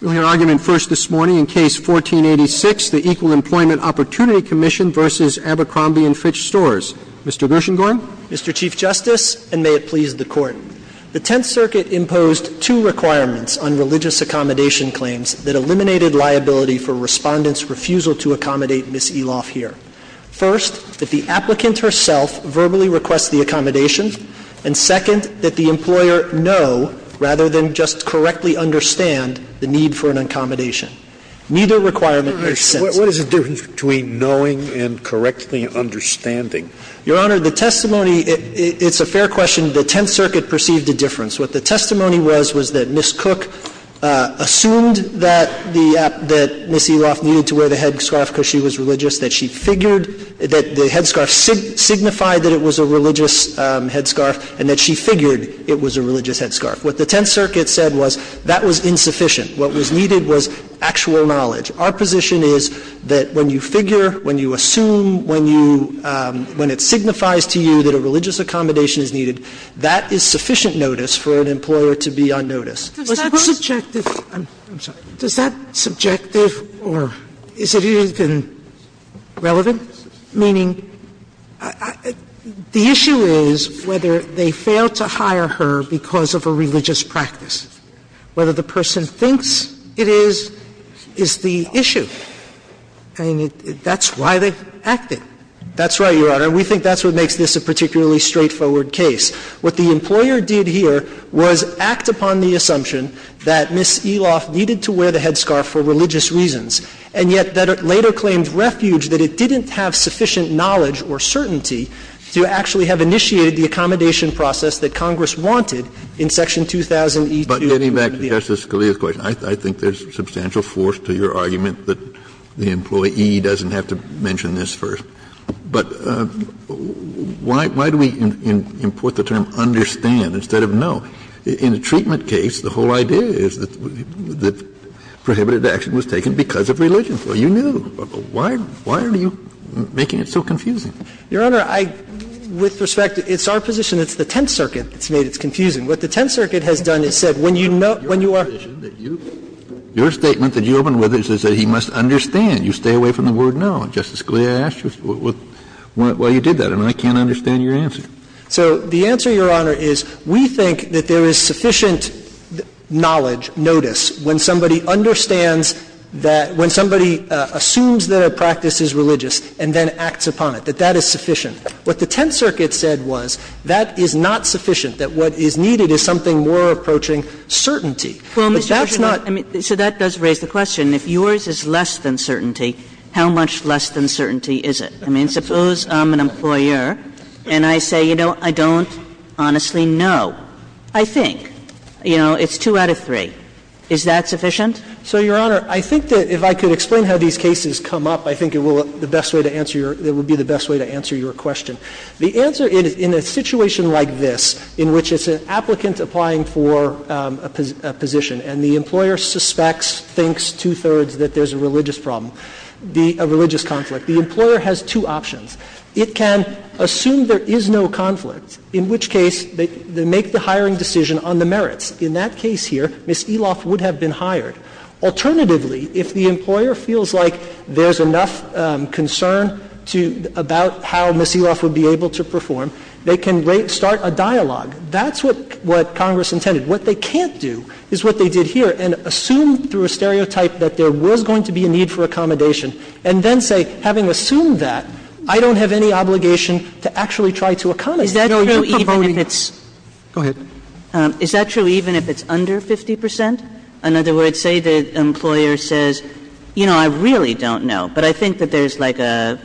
We'll hear argument first this morning in Case 1486, the Equal Employment Opportunity Commission v. Abercrombie & Fitch Stores. Mr. Gershengorn? Mr. Chief Justice, and may it please the Court, the Tenth Circuit imposed two requirements on religious accommodation claims that eliminated liability for Respondent's refusal to accommodate Ms. Eloff here. First, that the applicant herself verbally requests the accommodation, and second, that the employer know, rather than just correctly understand, the need for an accommodation. Neither requirement is sensible. What is the difference between knowing and correctly understanding? Your Honor, the testimony, it's a fair question. The Tenth Circuit perceived a difference. What the testimony was was that Ms. Cook assumed that the Ms. Eloff needed to wear the headscarf because she was religious, that she figured that the headscarf signified that it was a religious headscarf, and that she figured it was a religious headscarf. What the Tenth Circuit said was that was insufficient. What was needed was actual knowledge. Our position is that when you figure, when you assume, when you – when it signifies to you that a religious accommodation is needed, that is sufficient notice for an employer to be on notice. Sotomayor, I'm sorry. Does that subjective or is it even relevant? Meaning the issue is whether they failed to hire her because of a religious practice. Whether the person thinks it is, is the issue. I mean, that's why they acted. That's right, Your Honor. We think that's what makes this a particularly straightforward case. What the employer did here was act upon the assumption that Ms. Eloff needed to wear the headscarf for religious reasons, and yet that later claimed refuge that it didn't have sufficient knowledge or certainty to actually have initiated the accommodation process that Congress wanted in Section 2000e2. Kennedy, back to Justice Scalia's question. I think there's substantial force to your argument that the employee doesn't have to mention this first. But why do we import the term understand instead of know? In a treatment case, the whole idea is that prohibited action was taken because of religion. So you knew. Why are you making it so confusing? Your Honor, I – with respect, it's our position, it's the Tenth Circuit that's made it confusing. What the Tenth Circuit has done is said, when you know – when you are – Your position, your statement that you opened with is that he must understand. You stay away from the word know. Justice Scalia asked you why you did that, and I can't understand your answer. So the answer, Your Honor, is we think that there is sufficient knowledge, notice, when somebody understands that – when somebody assumes that a practice is religious and then acts upon it, that that is sufficient. What the Tenth Circuit said was that is not sufficient, that what is needed is something more approaching certainty. But that's not – So that does raise the question, if yours is less than certainty, how much less than certainty is it? I mean, suppose I'm an employer and I say, you know, I don't honestly know. I think. You know, it's two out of three. Is that sufficient? So, Your Honor, I think that if I could explain how these cases come up, I think it will – the best way to answer your – that would be the best way to answer your question. The answer, in a situation like this, in which it's an applicant applying for a position and the employer suspects, thinks, two-thirds, that there's a religious problem, a religious conflict, the employer has two options. It can assume there is no conflict, in which case they make the hiring decision on the merits. In that case here, Ms. Eloff would have been hired. Alternatively, if the employer feels like there's enough concern to – about how Ms. Eloff would be able to perform, they can start a dialogue. That's what Congress intended. What they can't do is what they did here and assume through a stereotype that there was going to be a need for accommodation, and then say, having assumed that, I don't have any obligation to actually try to accommodate. Kagan. Is that true even if it's under 50 percent? In other words, say the employer says, you know, I really don't know, but I think that there's like a,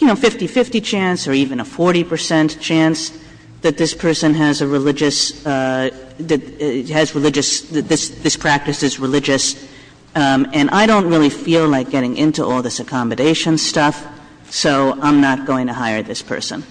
you know, 50-50 chance or even a 40 percent chance that this has religious, that this practice is religious, and I don't really feel like getting into all this accommodation stuff, so I'm not going to hire this person.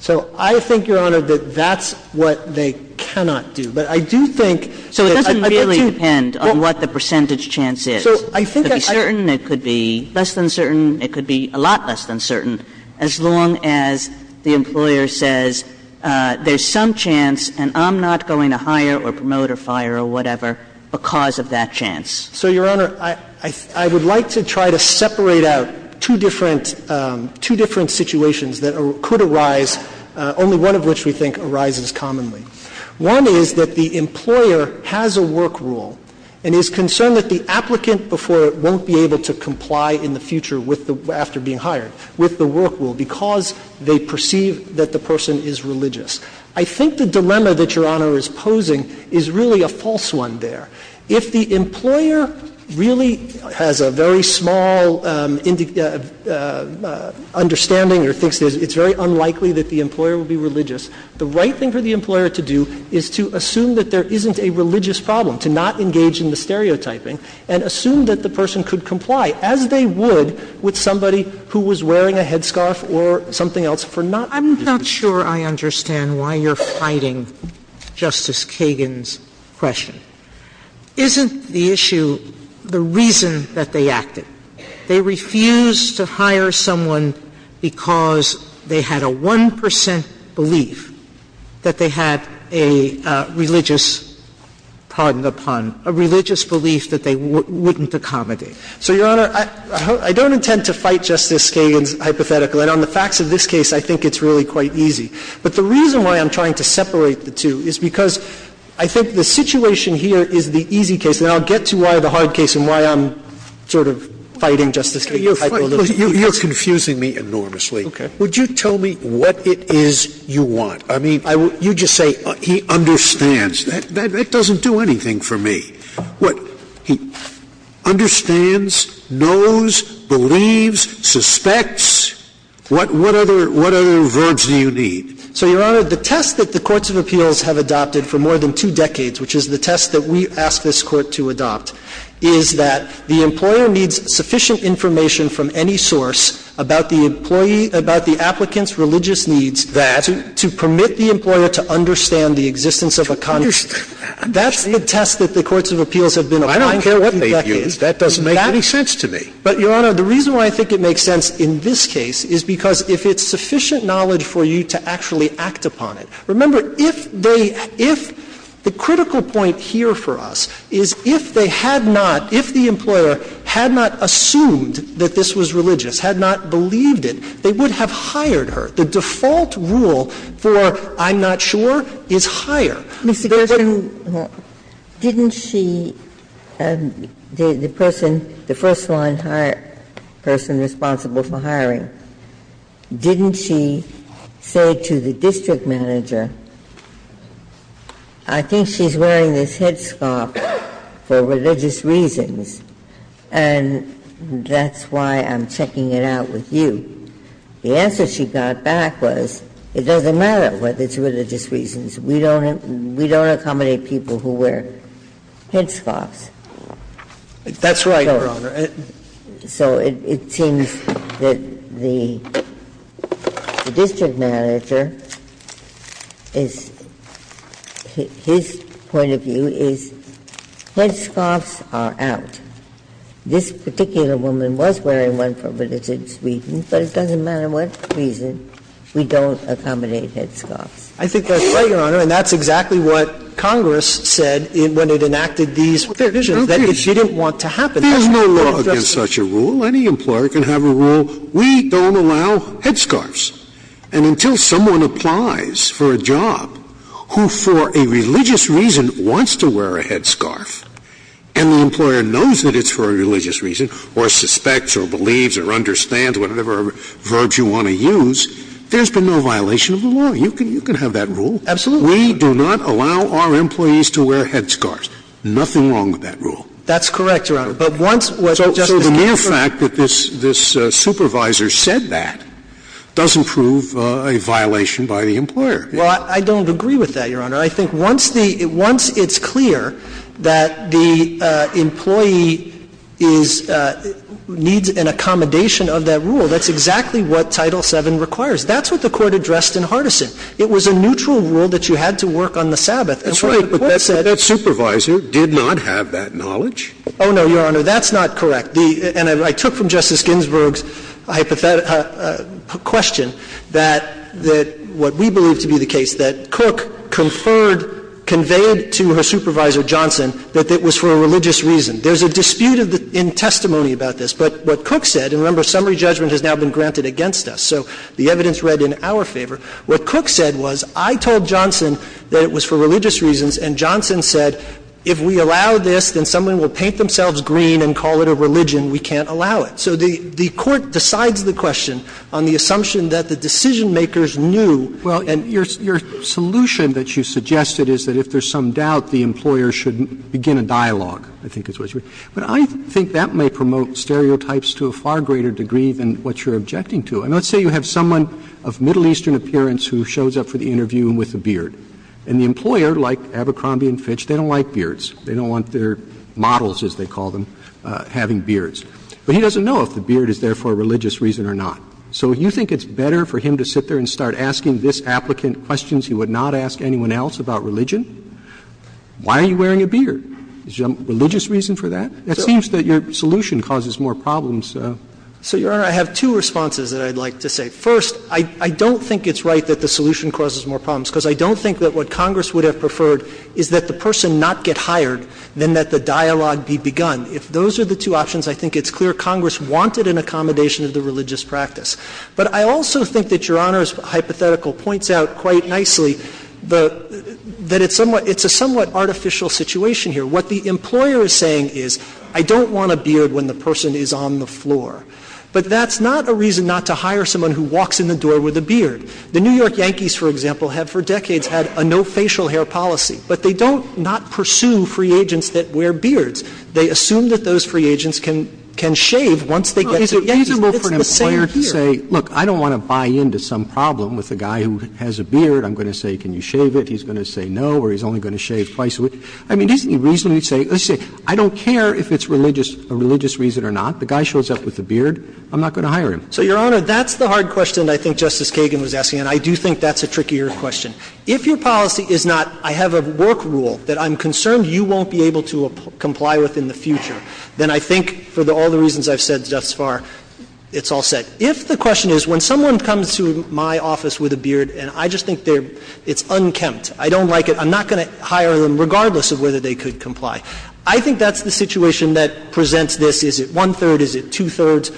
So I think, Your Honor, that that's what they cannot do. But I do think that I'd like to – So it doesn't really depend on what the percentage chance is. So I think that I – It could be certain, it could be less than certain, it could be a lot less than certain, as long as the employer says, there's some chance and I'm not going to hire or promote or fire or whatever because of that chance. So, Your Honor, I would like to try to separate out two different – two different situations that could arise, only one of which we think arises commonly. One is that the employer has a work rule and is concerned that the applicant before won't be able to comply in the future with the – after being hired, with the work rule, because they perceive that the person is religious. I think the dilemma that Your Honor is posing is really a false one there. If the employer really has a very small understanding or thinks it's very unlikely that the employer will be religious, the right thing for the employer to do is to assume that there isn't a religious problem, to not engage in the stereotyping, and assume that the person could comply, as they would with somebody who was wearing a headscarf or something else for not being religious. Sotomayor, I'm not sure I understand why you're fighting Justice Kagan's question. Isn't the issue the reason that they acted? They refused to hire someone because they had a 1 percent belief that they had a religious – pardon the pun – a religious belief that they wouldn't accommodate. So, Your Honor, I don't intend to fight Justice Kagan's hypothetical. And on the facts of this case, I think it's really quite easy. But the reason why I'm trying to separate the two is because I think the situation here is the easy case. And I'll get to why the hard case and why I'm sort of fighting Justice Kagan's hypothetical. Scalia, you're confusing me enormously. Okay. Would you tell me what it is you want? I mean, you just say, he understands. That doesn't do anything for me. What – he understands, knows, believes, suspects. What other verbs do you need? So, Your Honor, the test that the Courts of Appeals have adopted for more than two decades, which is the test that we asked this Court to adopt, is that the employer needs sufficient information from any source about the employee – about the applicant's religious needs – that to permit the employer to understand the existence of a – that's the test that the Courts of Appeals have been applying for decades. I don't care what they view. That doesn't make any sense to me. But, Your Honor, the reason why I think it makes sense in this case is because if it's sufficient knowledge for you to actually act upon it. Remember, if they – if – the critical point here for us is if they had not – if the employer had not assumed that this was religious, had not believed it, they would not have hired her. The default rule for I'm not sure is hire. Ginsburg, didn't she – the person, the first-line person responsible for hiring, didn't she say to the district manager, I think she's wearing this headscarf for religious reasons, and that's why I'm checking it out with you? The answer she got back was, it doesn't matter whether it's religious reasons. We don't – we don't accommodate people who wear headscarves. That's right, Your Honor. So it seems that the district manager is – his point of view is headscarves are out. This particular woman was wearing one for religious reasons, but it doesn't matter what reason. We don't accommodate headscarves. I think that's right, Your Honor, and that's exactly what Congress said when it enacted these provisions. They didn't want to happen. There's no law against such a rule. Any employer can have a rule. We don't allow headscarves. And until someone applies for a job who, for a religious reason, wants to wear a headscarf and the employer knows that it's for a religious reason, or suspects or believes or understands, whatever verbs you want to use, there's been no violation of the law. You can have that rule. Absolutely. We do not allow our employees to wear headscarves. Nothing wrong with that rule. That's correct, Your Honor. But once Justice Kagan said that – So the mere fact that this supervisor said that doesn't prove a violation by the employer. Well, I don't agree with that, Your Honor. I think once the – once it's clear that the employee is – needs an accommodation of that rule, that's exactly what Title VII requires. That's what the Court addressed in Hardison. It was a neutral rule that you had to work on the Sabbath. That's right. But that said – But that supervisor did not have that knowledge. Oh, no, Your Honor. That's not correct. And I took from Justice Ginsburg's hypothetical question that what we believe to be the case that Cook conferred, conveyed to her supervisor, Johnson, that it was for a religious reason. There's a dispute in testimony about this. But what Cook said – and remember, summary judgment has now been granted against us. So the evidence read in our favor. What Cook said was, I told Johnson that it was for religious reasons, and Johnson said, if we allow this, then someone will paint themselves green and call it a religion. We can't allow it. So the Court decides the question on the assumption that the decision-makers knew – well, and your solution that you suggested is that if there's some doubt, the employer should begin a dialogue, I think is what you're saying. But I think that may promote stereotypes to a far greater degree than what you're objecting to. I mean, let's say you have someone of Middle Eastern appearance who shows up for the interview with a beard. And the employer, like Abercrombie and Fitch, they don't like beards. They don't want their models, as they call them, having beards. But he doesn't know if the beard is there for a religious reason or not. So you think it's better for him to sit there and start asking this applicant questions he would not ask anyone else about religion? Why are you wearing a beard? Is there a religious reason for that? It seems that your solution causes more problems. So, Your Honor, I have two responses that I'd like to say. First, I don't think it's right that the solution causes more problems, because I don't think that what Congress would have preferred is that the person not get hired, then that the dialogue be begun. If those are the two options, I think it's clear Congress wanted an accommodation of the religious practice. But I also think that Your Honor's hypothetical points out quite nicely that it's a somewhat artificial situation here. What the employer is saying is, I don't want a beard when the person is on the floor. But that's not a reason not to hire someone who walks in the door with a beard. The New York Yankees, for example, have for decades had a no facial hair policy. But they don't not pursue free agents that wear beards. They assume that those free agents can shave once they get to Yankees. Roberts, it's reasonable for an employer to say, look, I don't want to buy in to some problem with a guy who has a beard. I'm going to say, can you shave it? He's going to say no, or he's only going to shave twice a week. I mean, isn't it reasonable to say, let's say, I don't care if it's religious or religious reason or not. The guy shows up with a beard, I'm not going to hire him. So, Your Honor, that's the hard question I think Justice Kagan was asking, and I do think that's a trickier question. If your policy is not, I have a work rule that I'm concerned you won't be able to comply with in the future, then I think for all the reasons I've said thus far, it's all set. If the question is, when someone comes to my office with a beard and I just think it's unkempt, I don't like it, I'm not going to hire them regardless of whether they could comply, I think that's the situation that presents this, is it one-third, is it two-thirds.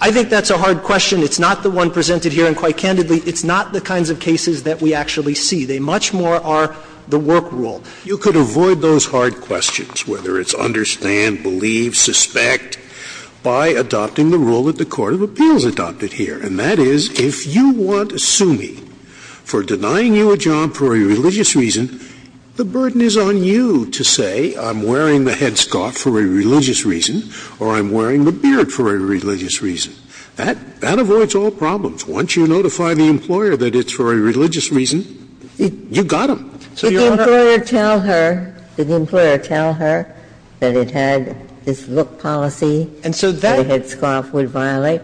I think that's a hard question. It's not the one presented here, and quite candidly, it's not the kinds of cases that we actually see. They much more are the work rule. Scalia, you could avoid those hard questions, whether it's understand, believe, suspect, by adopting the rule that the court of appeals adopted here, and that is, if you want to sue me for denying you a job for a religious reason, the burden is on you to say I'm wearing the headscarf for a religious reason, or I'm wearing the beard for a religious reason. That avoids all problems. Once you notify the employer that it's for a religious reason, you got them. So you're over. Ginsburg-Ginzburg Did the employer tell her that it had this look policy that a headscarf would violate?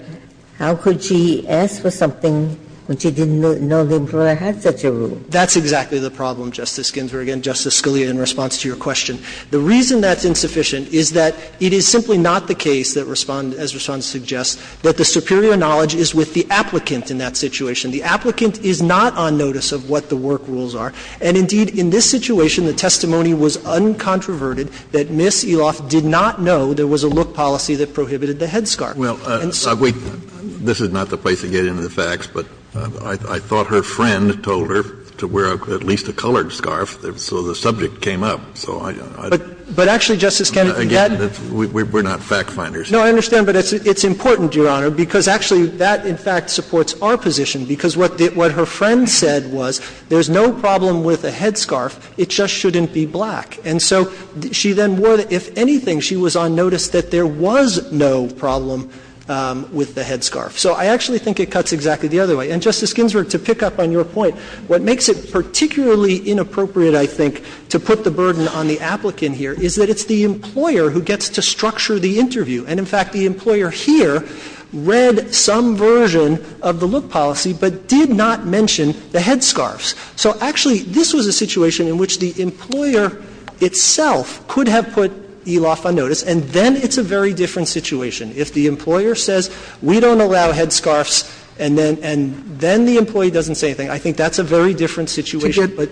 How could she ask for something when she didn't know the employer had such a rule? That's exactly the problem, Justice Ginsburg, and Justice Scalia, in response to your question. The reason that's insufficient is that it is simply not the case that Respondent as Respondent suggests that the superior knowledge is with the applicant in that situation. The applicant is not on notice of what the work rules are, and indeed, in this situation, the testimony was uncontroverted that Ms. Eloff did not know there was a look policy that prohibited the headscarf. Kennedy Well, this is not the place to get into the facts, but I thought her friend told her to wear at least a colored scarf, so the subject came up. So I don't know. Gershengorn But actually, Justice Kennedy, that's Kennedy Again, we're not fact-finders here. Gershengorn No, I understand, but it's important, Your Honor, because actually that in fact supports our position, because what her friend said was, there's no problem with a headscarf, it just shouldn't be black. And so she then wore the – if anything, she was on notice that there was no problem with the headscarf. So I actually think it cuts exactly the other way. And, Justice Ginsburg, to pick up on your point, what makes it particularly inappropriate, I think, to put the burden on the applicant here is that it's the employer who gets to structure the interview, and in fact, the employer here read some version of the look policy, but did not mention the headscarves. So actually, this was a situation in which the employer itself could have put Eloff on notice, and then it's a very different situation. If the employer says, we don't allow headscarves, and then the employee doesn't say anything, I think that's a very different situation, but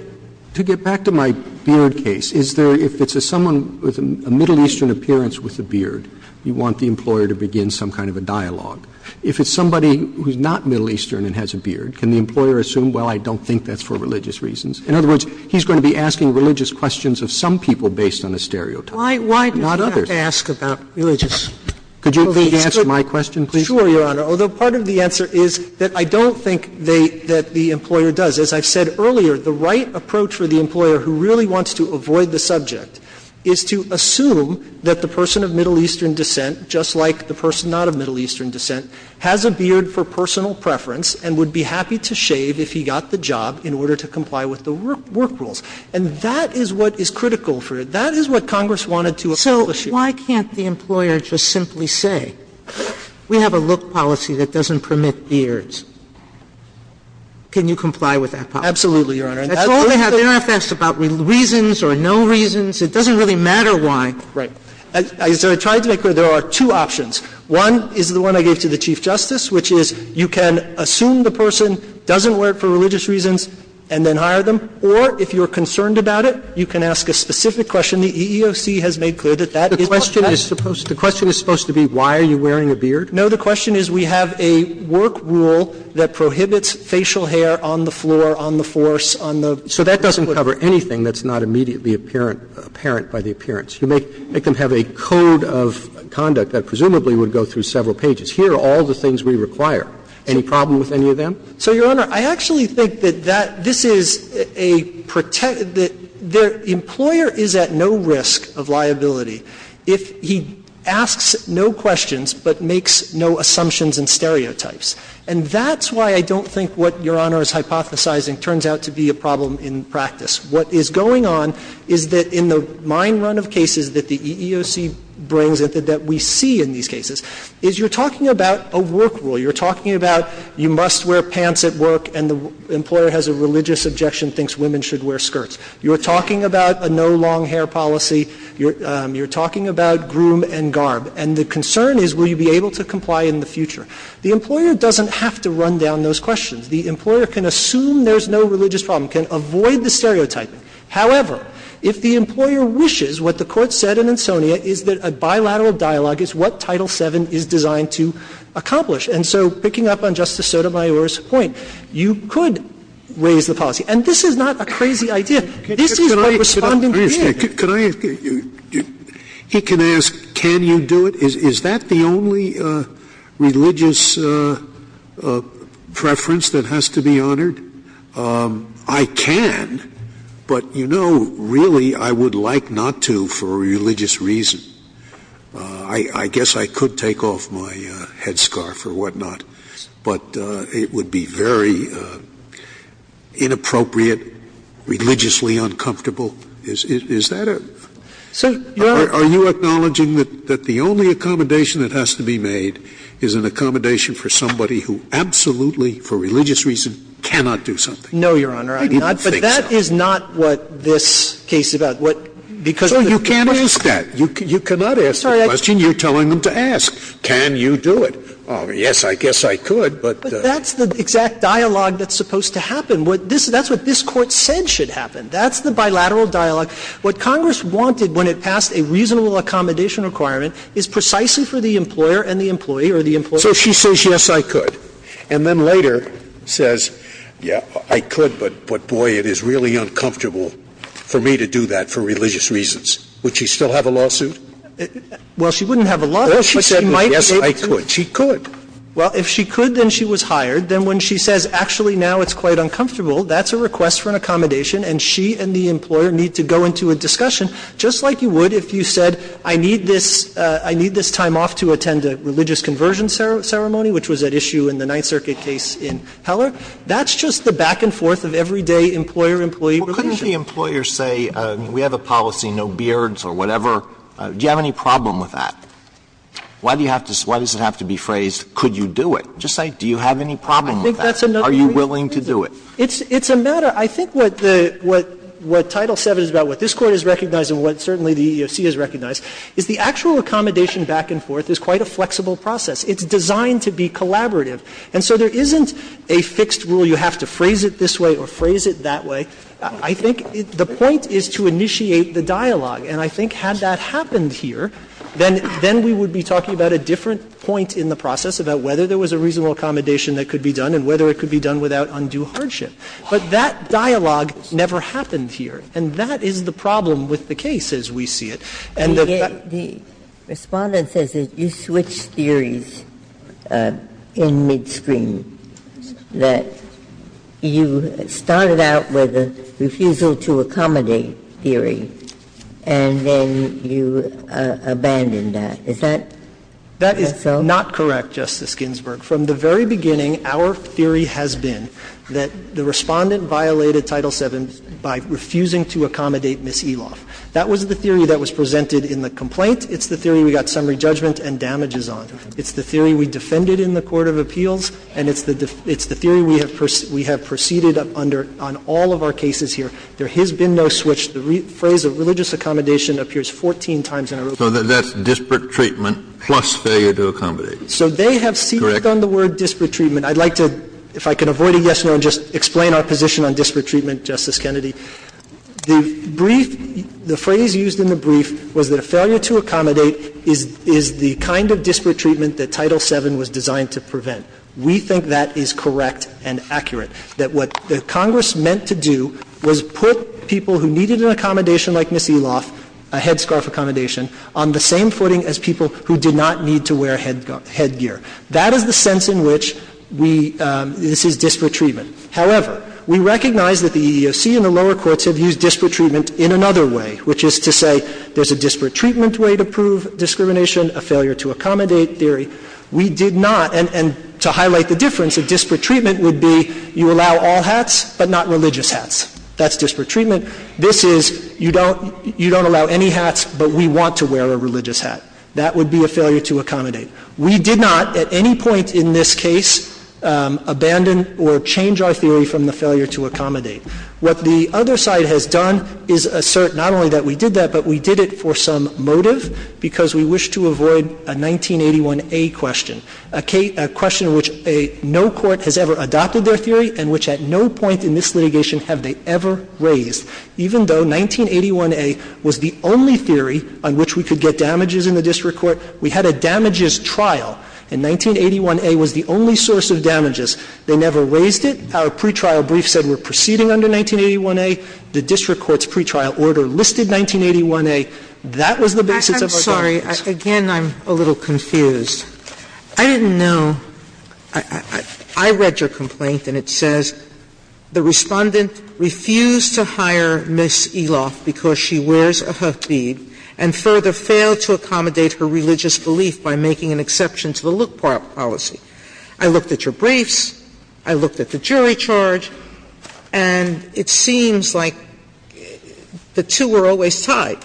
to get back to my beard case, is there – if it's someone with a Middle Eastern appearance with a beard, you want the employer to begin some kind of a dialogue. If it's somebody who's not Middle Eastern and has a beard, can the employer assume, well, I don't think that's for religious reasons? In other words, he's going to be asking religious questions of some people based on a stereotype, not others. Sotomayor, why does he have to ask about religious questions? Roberts, could you please answer my question, please? Sure, Your Honor, although part of the answer is that I don't think they – that the employer does. As I've said earlier, the right approach for the employer who really wants to avoid the subject is to assume that the person of Middle Eastern descent, just like the has a beard for personal preference and would be happy to shave if he got the job in order to comply with the work rules. And that is what is critical for it. That is what Congress wanted to accomplish here. So why can't the employer just simply say, we have a look policy that doesn't permit beards? Can you comply with that policy? Absolutely, Your Honor. And that's all they have – they don't have to ask about reasons or no reasons. It doesn't really matter why. Right. So I tried to make clear there are two options. One is the one I gave to the Chief Justice, which is you can assume the person doesn't wear it for religious reasons and then hire them, or if you're concerned about it, you can ask a specific question. The EEOC has made clear that that is not the case. The question is supposed to be why are you wearing a beard? No, the question is we have a work rule that prohibits facial hair on the floor, on the force, on the foot. So that doesn't cover anything that's not immediately apparent by the appearance. You make them have a code of conduct that presumably would go through several pages. Here are all the things we require. Any problem with any of them? So, Your Honor, I actually think that that – this is a – the employer is at no risk of liability if he asks no questions but makes no assumptions and stereotypes. And that's why I don't think what Your Honor is hypothesizing turns out to be a problem in practice. What is going on is that in the mine run of cases that the EEOC brings and that we see in these cases, is you're talking about a work rule. You're talking about you must wear pants at work and the employer has a religious objection, thinks women should wear skirts. You're talking about a no long hair policy. You're talking about groom and garb. And the concern is will you be able to comply in the future? The employer doesn't have to run down those questions. The employer can assume there's no religious problem, can avoid the stereotypes and stereotypes. However, if the employer wishes, what the Court said in Insonia is that a bilateral dialogue is what Title VII is designed to accomplish. And so picking up on Justice Sotomayor's point, you could raise the policy. And this is not a crazy idea. This is what Respondent did. Scalia, he can ask, can you do it? Is that the only religious preference that has to be honored? I can, but you know, really, I would like not to for a religious reason. I guess I could take off my headscarf or whatnot, but it would be very inappropriate, religiously uncomfortable. Is that a are you acknowledging that the only accommodation that has to be made is an I didn't think so. But that is not what this case is about. Because the So you can't ask that. You cannot ask the question you're telling them to ask. Can you do it? Yes, I guess I could, but But that's the exact dialogue that's supposed to happen. That's what this Court said should happen. That's the bilateral dialogue. What Congress wanted when it passed a reasonable accommodation requirement is precisely for the employer and the employee or the employer So she says yes, I could. And then later says, yeah, I could, but boy, it is really uncomfortable for me to do that for religious reasons. Would she still have a lawsuit? Well, she wouldn't have a lawsuit, but she might be able to Yes, I could. She could. Well, if she could, then she was hired. Then when she says actually now it's quite uncomfortable, that's a request for an accommodation and she and the employer need to go into a discussion just like you would if you said I need this time off to attend a religious conversion ceremony, which was at issue in the Ninth Circuit case in Heller. That's just the back and forth of everyday employer-employee relations. Well, couldn't the employer say we have a policy, no beards or whatever? Do you have any problem with that? Why do you have to why does it have to be phrased could you do it? Just say do you have any problem with that? Are you willing to do it? It's a matter I think what the what Title VII is about, what this Court has recognized and what certainly the EEOC has recognized is the actual accommodation back and forth is quite a flexible process. It's designed to be collaborative. And so there isn't a fixed rule you have to phrase it this way or phrase it that way. I think the point is to initiate the dialogue. And I think had that happened here, then we would be talking about a different point in the process about whether there was a reasonable accommodation that could be done and whether it could be done without undue hardship. But that dialogue never happened here. And that is the problem with the case as we see it. And the respondent says that you switched theories in mid-screen, that you started out with a refusal to accommodate theory and then you abandoned that. Is that so? That is not correct, Justice Ginsburg. From the very beginning, our theory has been that the respondent violated Title VII by refusing to accommodate Ms. Eloff. That was the theory that was presented in the complaint. It's the theory we got summary judgment and damages on. It's the theory we defended in the court of appeals. And it's the theory we have preceded under on all of our cases here. There has been no switch. The phrase of religious accommodation appears 14 times in a row. So that's disparate treatment plus failure to accommodate. So they have secretly done the word disparate treatment. I'd like to, if I can avoid a yes-no and just explain our position on disparate treatment, Justice Kennedy. The brief – the phrase used in the brief was that a failure to accommodate is the kind of disparate treatment that Title VII was designed to prevent. We think that is correct and accurate, that what Congress meant to do was put people who needed an accommodation like Ms. Eloff, a headscarf accommodation, on the same footing as people who did not need to wear headgear. That is the sense in which we – this is disparate treatment. However, we recognize that the EEOC and the lower courts have used disparate treatment in another way, which is to say there's a disparate treatment way to prove discrimination, a failure to accommodate theory. We did not – and to highlight the difference, a disparate treatment would be you allow all hats but not religious hats. That's disparate treatment. This is you don't allow any hats but we want to wear a religious hat. That would be a failure to accommodate. We did not at any point in this case abandon or change our theory from the failure to accommodate. What the other side has done is assert not only that we did that, but we did it for some motive because we wish to avoid a 1981A question, a question which no court has ever adopted their theory and which at no point in this litigation have they ever raised. Even though 1981A was the only theory on which we could get damages in the district court, we had a damages trial, and 1981A was the only source of damages. They never raised it. Our pre-trial brief said we're proceeding under 1981A. The district court's pre-trial order listed 1981A. That was the basis of our damages. Sotomayor, I'm sorry, again, I'm a little confused. I didn't know – I read your complaint and it says the Respondent refused to hire Ms. Eloff because she wears a hoofbead and further failed to accommodate her religious belief by making an exception to the Luke policy. I looked at your briefs, I looked at the jury charge, and it seems like the two were always tied.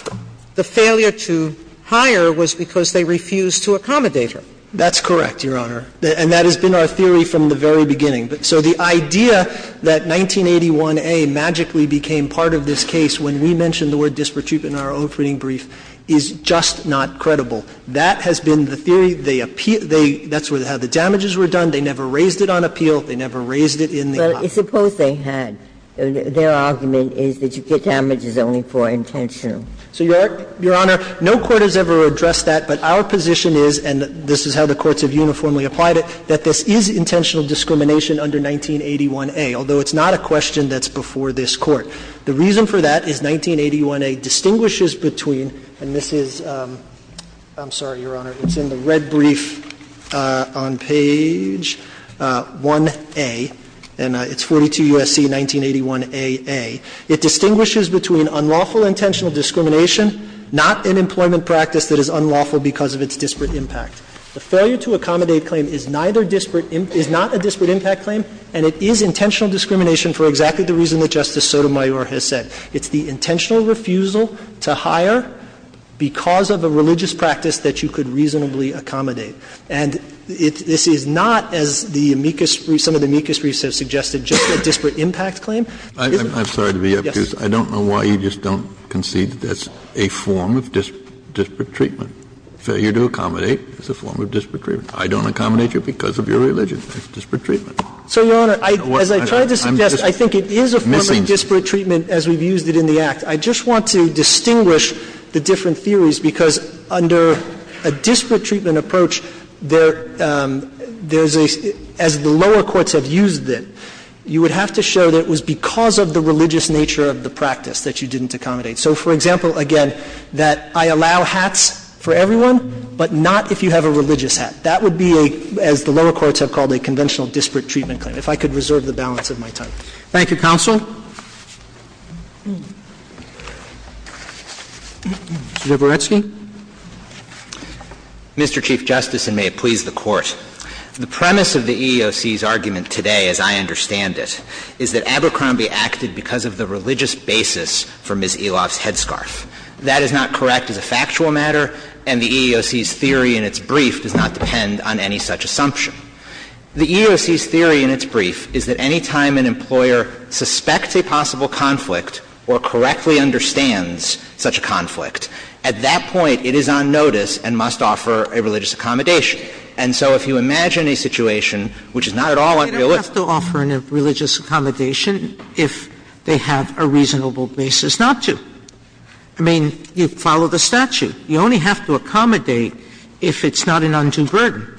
The failure to hire was because they refused to accommodate her. That's correct, Your Honor, and that has been our theory from the very beginning. So the idea that 1981A magically became part of this case when we mentioned the word disparate treatment in our opening brief is just not credible. That has been the theory. They appealed – that's how the damages were done. They never raised it on appeal. They never raised it in the law. Well, suppose they had. Their argument is that you get damages only for intentional. So, Your Honor, no court has ever addressed that, but our position is, and this is how the courts have uniformly applied it, that this is intentional discrimination under 1981A, although it's not a question that's before this Court. The reason for that is 1981A distinguishes between – and this is – I'm sorry, Your Honor. It's in the red brief on page 1A, and it's 42 U.S.C. 1981AA. It distinguishes between unlawful intentional discrimination, not an employment practice that is unlawful because of its disparate impact. The failure to accommodate claim is neither disparate – is not a disparate impact claim, and it is intentional discrimination for exactly the reason that Justice Sotomayor has said. It's the intentional refusal to hire because of a religious practice that you could reasonably accommodate. And it's – this is not, as the amicus briefs – some of the amicus briefs have suggested, just a disparate impact claim. Kennedy, I'm sorry to be up here, because I don't know why you just don't concede that that's a form of disparate treatment. Failure to accommodate is a form of disparate treatment. I don't accommodate you because of your religion. It's disparate treatment. So, Your Honor, as I tried to suggest, I think it is a form of disparate treatment as we've used it in the Act. I just want to distinguish the different theories, because under a disparate treatment approach, there's a – as the lower courts have used it, you would have to show that it was because of the religious nature of the practice that you didn't accommodate. So, for example, again, that I allow hats for everyone, but not if you have a religious hat. That would be a – as the lower courts have called a conventional disparate treatment claim. If I could reserve the balance of my time. Roberts. Thank you, counsel. Mr. Dabrowski. Mr. Chief Justice, and may it please the Court. The premise of the EEOC's argument today, as I understand it, is that Abercrombie acted because of the religious basis for Ms. Eloff's headscarf. That is not correct as a factual matter, and the EEOC's theory in its brief does not depend on any such assumption. The EEOC's theory in its brief is that any time an employer suspects a possible conflict or correctly understands such a conflict, at that point it is on notice and must offer a religious accommodation. And so if you imagine a situation which is not at all a religious one. Sotomayor, I mean, you can't have a religious accommodation if they have a reasonable basis not to. I mean, you follow the statute. You only have to accommodate if it's not an undue burden.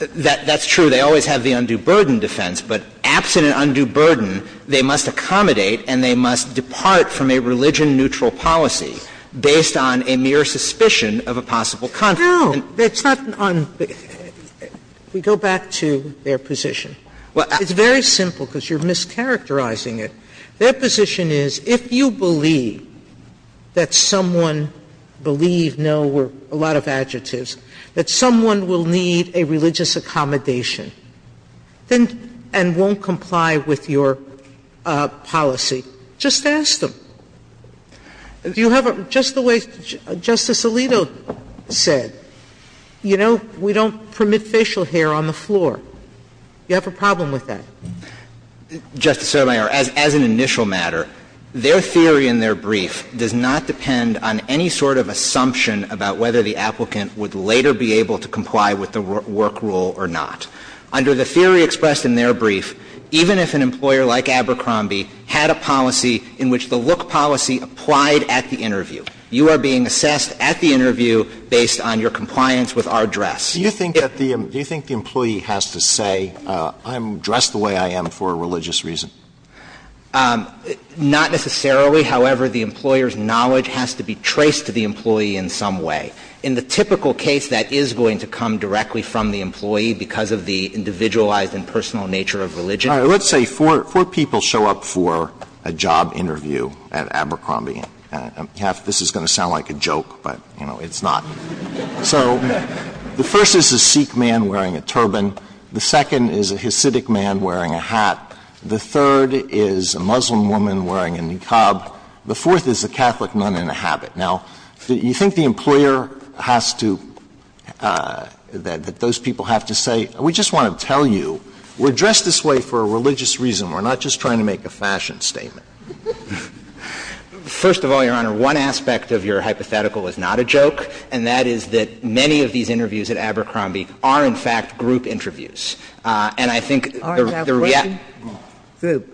That's true. They always have the undue burden defense, but absent an undue burden, they must accommodate and they must depart from a religion-neutral policy based on a mere suspicion of a possible conflict. Sotomayor No, that's not an un – go back to their position. It's very simple because you are mischaracterizing it. Their position is if you believe that someone believe, no or a lot of adjectives, that someone will need a religious accommodation, then and won't comply with your policy, just ask them. Do you have a – just the way Justice Alito said, you know, we don't permit facial hair on the floor. Do you have a problem with that? Justice Sotomayor, as an initial matter, their theory in their brief does not depend on any sort of assumption about whether the applicant would later be able to comply with the work rule or not. Under the theory expressed in their brief, even if an employer like Abercrombie had a policy in which the look policy applied at the interview, you are being assessed at the interview based on your compliance with our dress. Do you think that the – do you think the employee has to say, I'm dressed the way I am for a religious reason? Not necessarily. However, the employer's knowledge has to be traced to the employee in some way. In the typical case, that is going to come directly from the employee because of the individualized and personal nature of religion. Alito, I'm sorry, let's say four people show up for a job interview at Abercrombie. This is going to sound like a joke, but, you know, it's not. So the first is a Sikh man wearing a turban, the second is a Hasidic man wearing a hat, the third is a Muslim woman wearing a niqab, the fourth is a Catholic nun in a habit. Now, you think the employer has to – that those people have to say, we just want to tell you, we're dressed this way for a religious reason, we're not just trying to make a fashion statement. First of all, Your Honor, one aspect of your hypothetical is not a joke, and that is that many of these interviews at Abercrombie are, in fact, group interviews. And I think the reality of the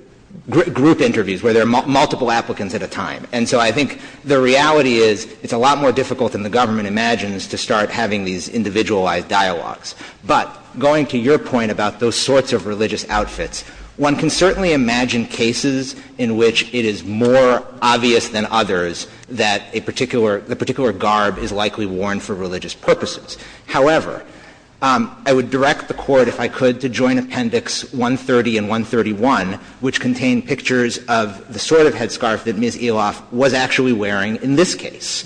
group interviews, where there are multiple applicants at a time. And so I think the reality is it's a lot more difficult than the government imagines to start having these individualized dialogues. But going to your point about those sorts of religious outfits, one can certainly imagine cases in which it is more obvious than others that a particular – the particular garb is likely worn for religious purposes. However, I would direct the Court, if I could, to Joint Appendix 130 and 131, which contain pictures of the sort of headscarf that Ms. Eloff was actually wearing in this case.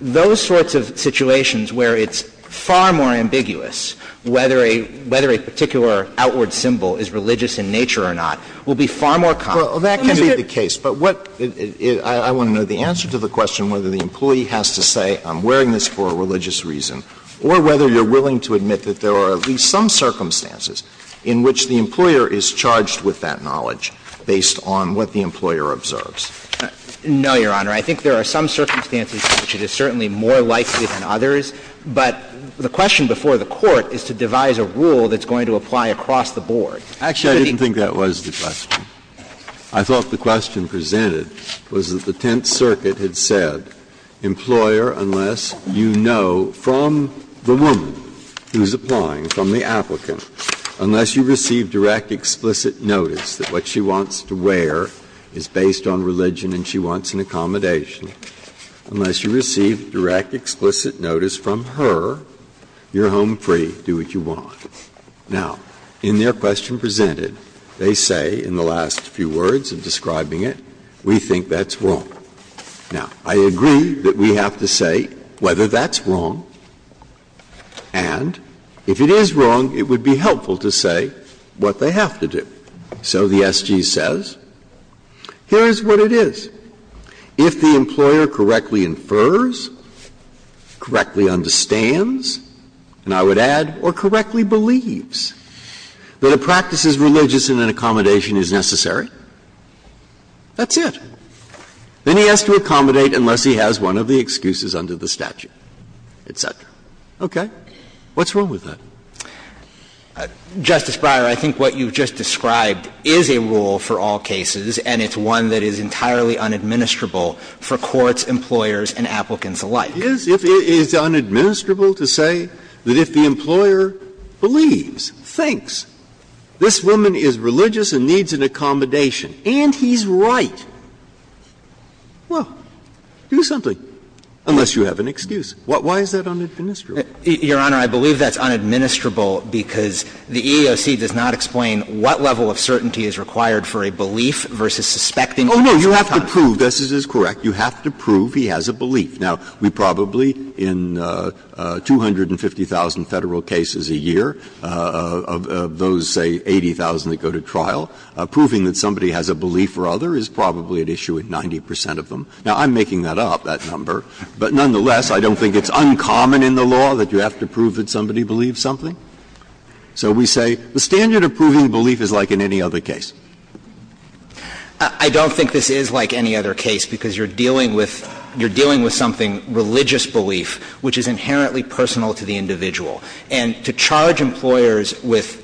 Those sorts of situations where it's far more ambiguous whether a – whether a particular outward symbol is religious in nature or not will be far more common. Well, that can be the case. But what – I want to know the answer to the question whether the employee has to say I'm wearing this for a religious reason, or whether you're willing to admit that there are at least some circumstances in which the employer is charged with that knowledge based on what the employer observes. No, Your Honor. I think there are some circumstances in which it is certainly more likely than others. But the question before the Court is to devise a rule that's going to apply across the board. Actually, I didn't think that was the question. I thought the question presented was that the Tenth Circuit had said, employer, unless you know from the woman who's applying, from the applicant, unless you receive direct explicit notice that what she wants to wear is based on religion and she wants an accommodation, unless you receive direct explicit notice from her, you're home free, do what you want. Now, in their question presented, they say in the last few words of describing it, we think that's wrong. Now, I agree that we have to say whether that's wrong, and if it is wrong, it would be helpful to say what they have to do. So the SG says, here is what it is. If the employer correctly infers, correctly understands, and I would add, or correctly believes that a practice as religious in an accommodation is necessary, that's it. Then he has to accommodate unless he has one of the excuses under the statute, et cetera. Okay. What's wrong with that? Justice Breyer, I think what you've just described is a rule for all cases, and it's one that is entirely unadministrable for courts, employers, and applicants alike. It is unadministrable to say that if the employer believes, thinks, this woman is religious and needs an accommodation, and he's right, well, do something, unless you have an excuse. Why is that unadministrable? Your Honor, I believe that's unadministrable because the EEOC does not explain what level of certainty is required for a belief versus suspecting. Oh, no. You have to prove, this is correct, you have to prove he has a belief. Now, we probably, in 250,000 Federal cases a year, of those, say, 80,000 that go to trial, proving that somebody has a belief or other is probably at issue with 90 percent of them. Now, I'm making that up, that number. But nonetheless, I don't think it's uncommon in the law that you have to prove that somebody believes something. So we say the standard of proving belief is like in any other case. I don't think this is like any other case, because you're dealing with you're dealing with something, religious belief, which is inherently personal to the individual. And to charge employers with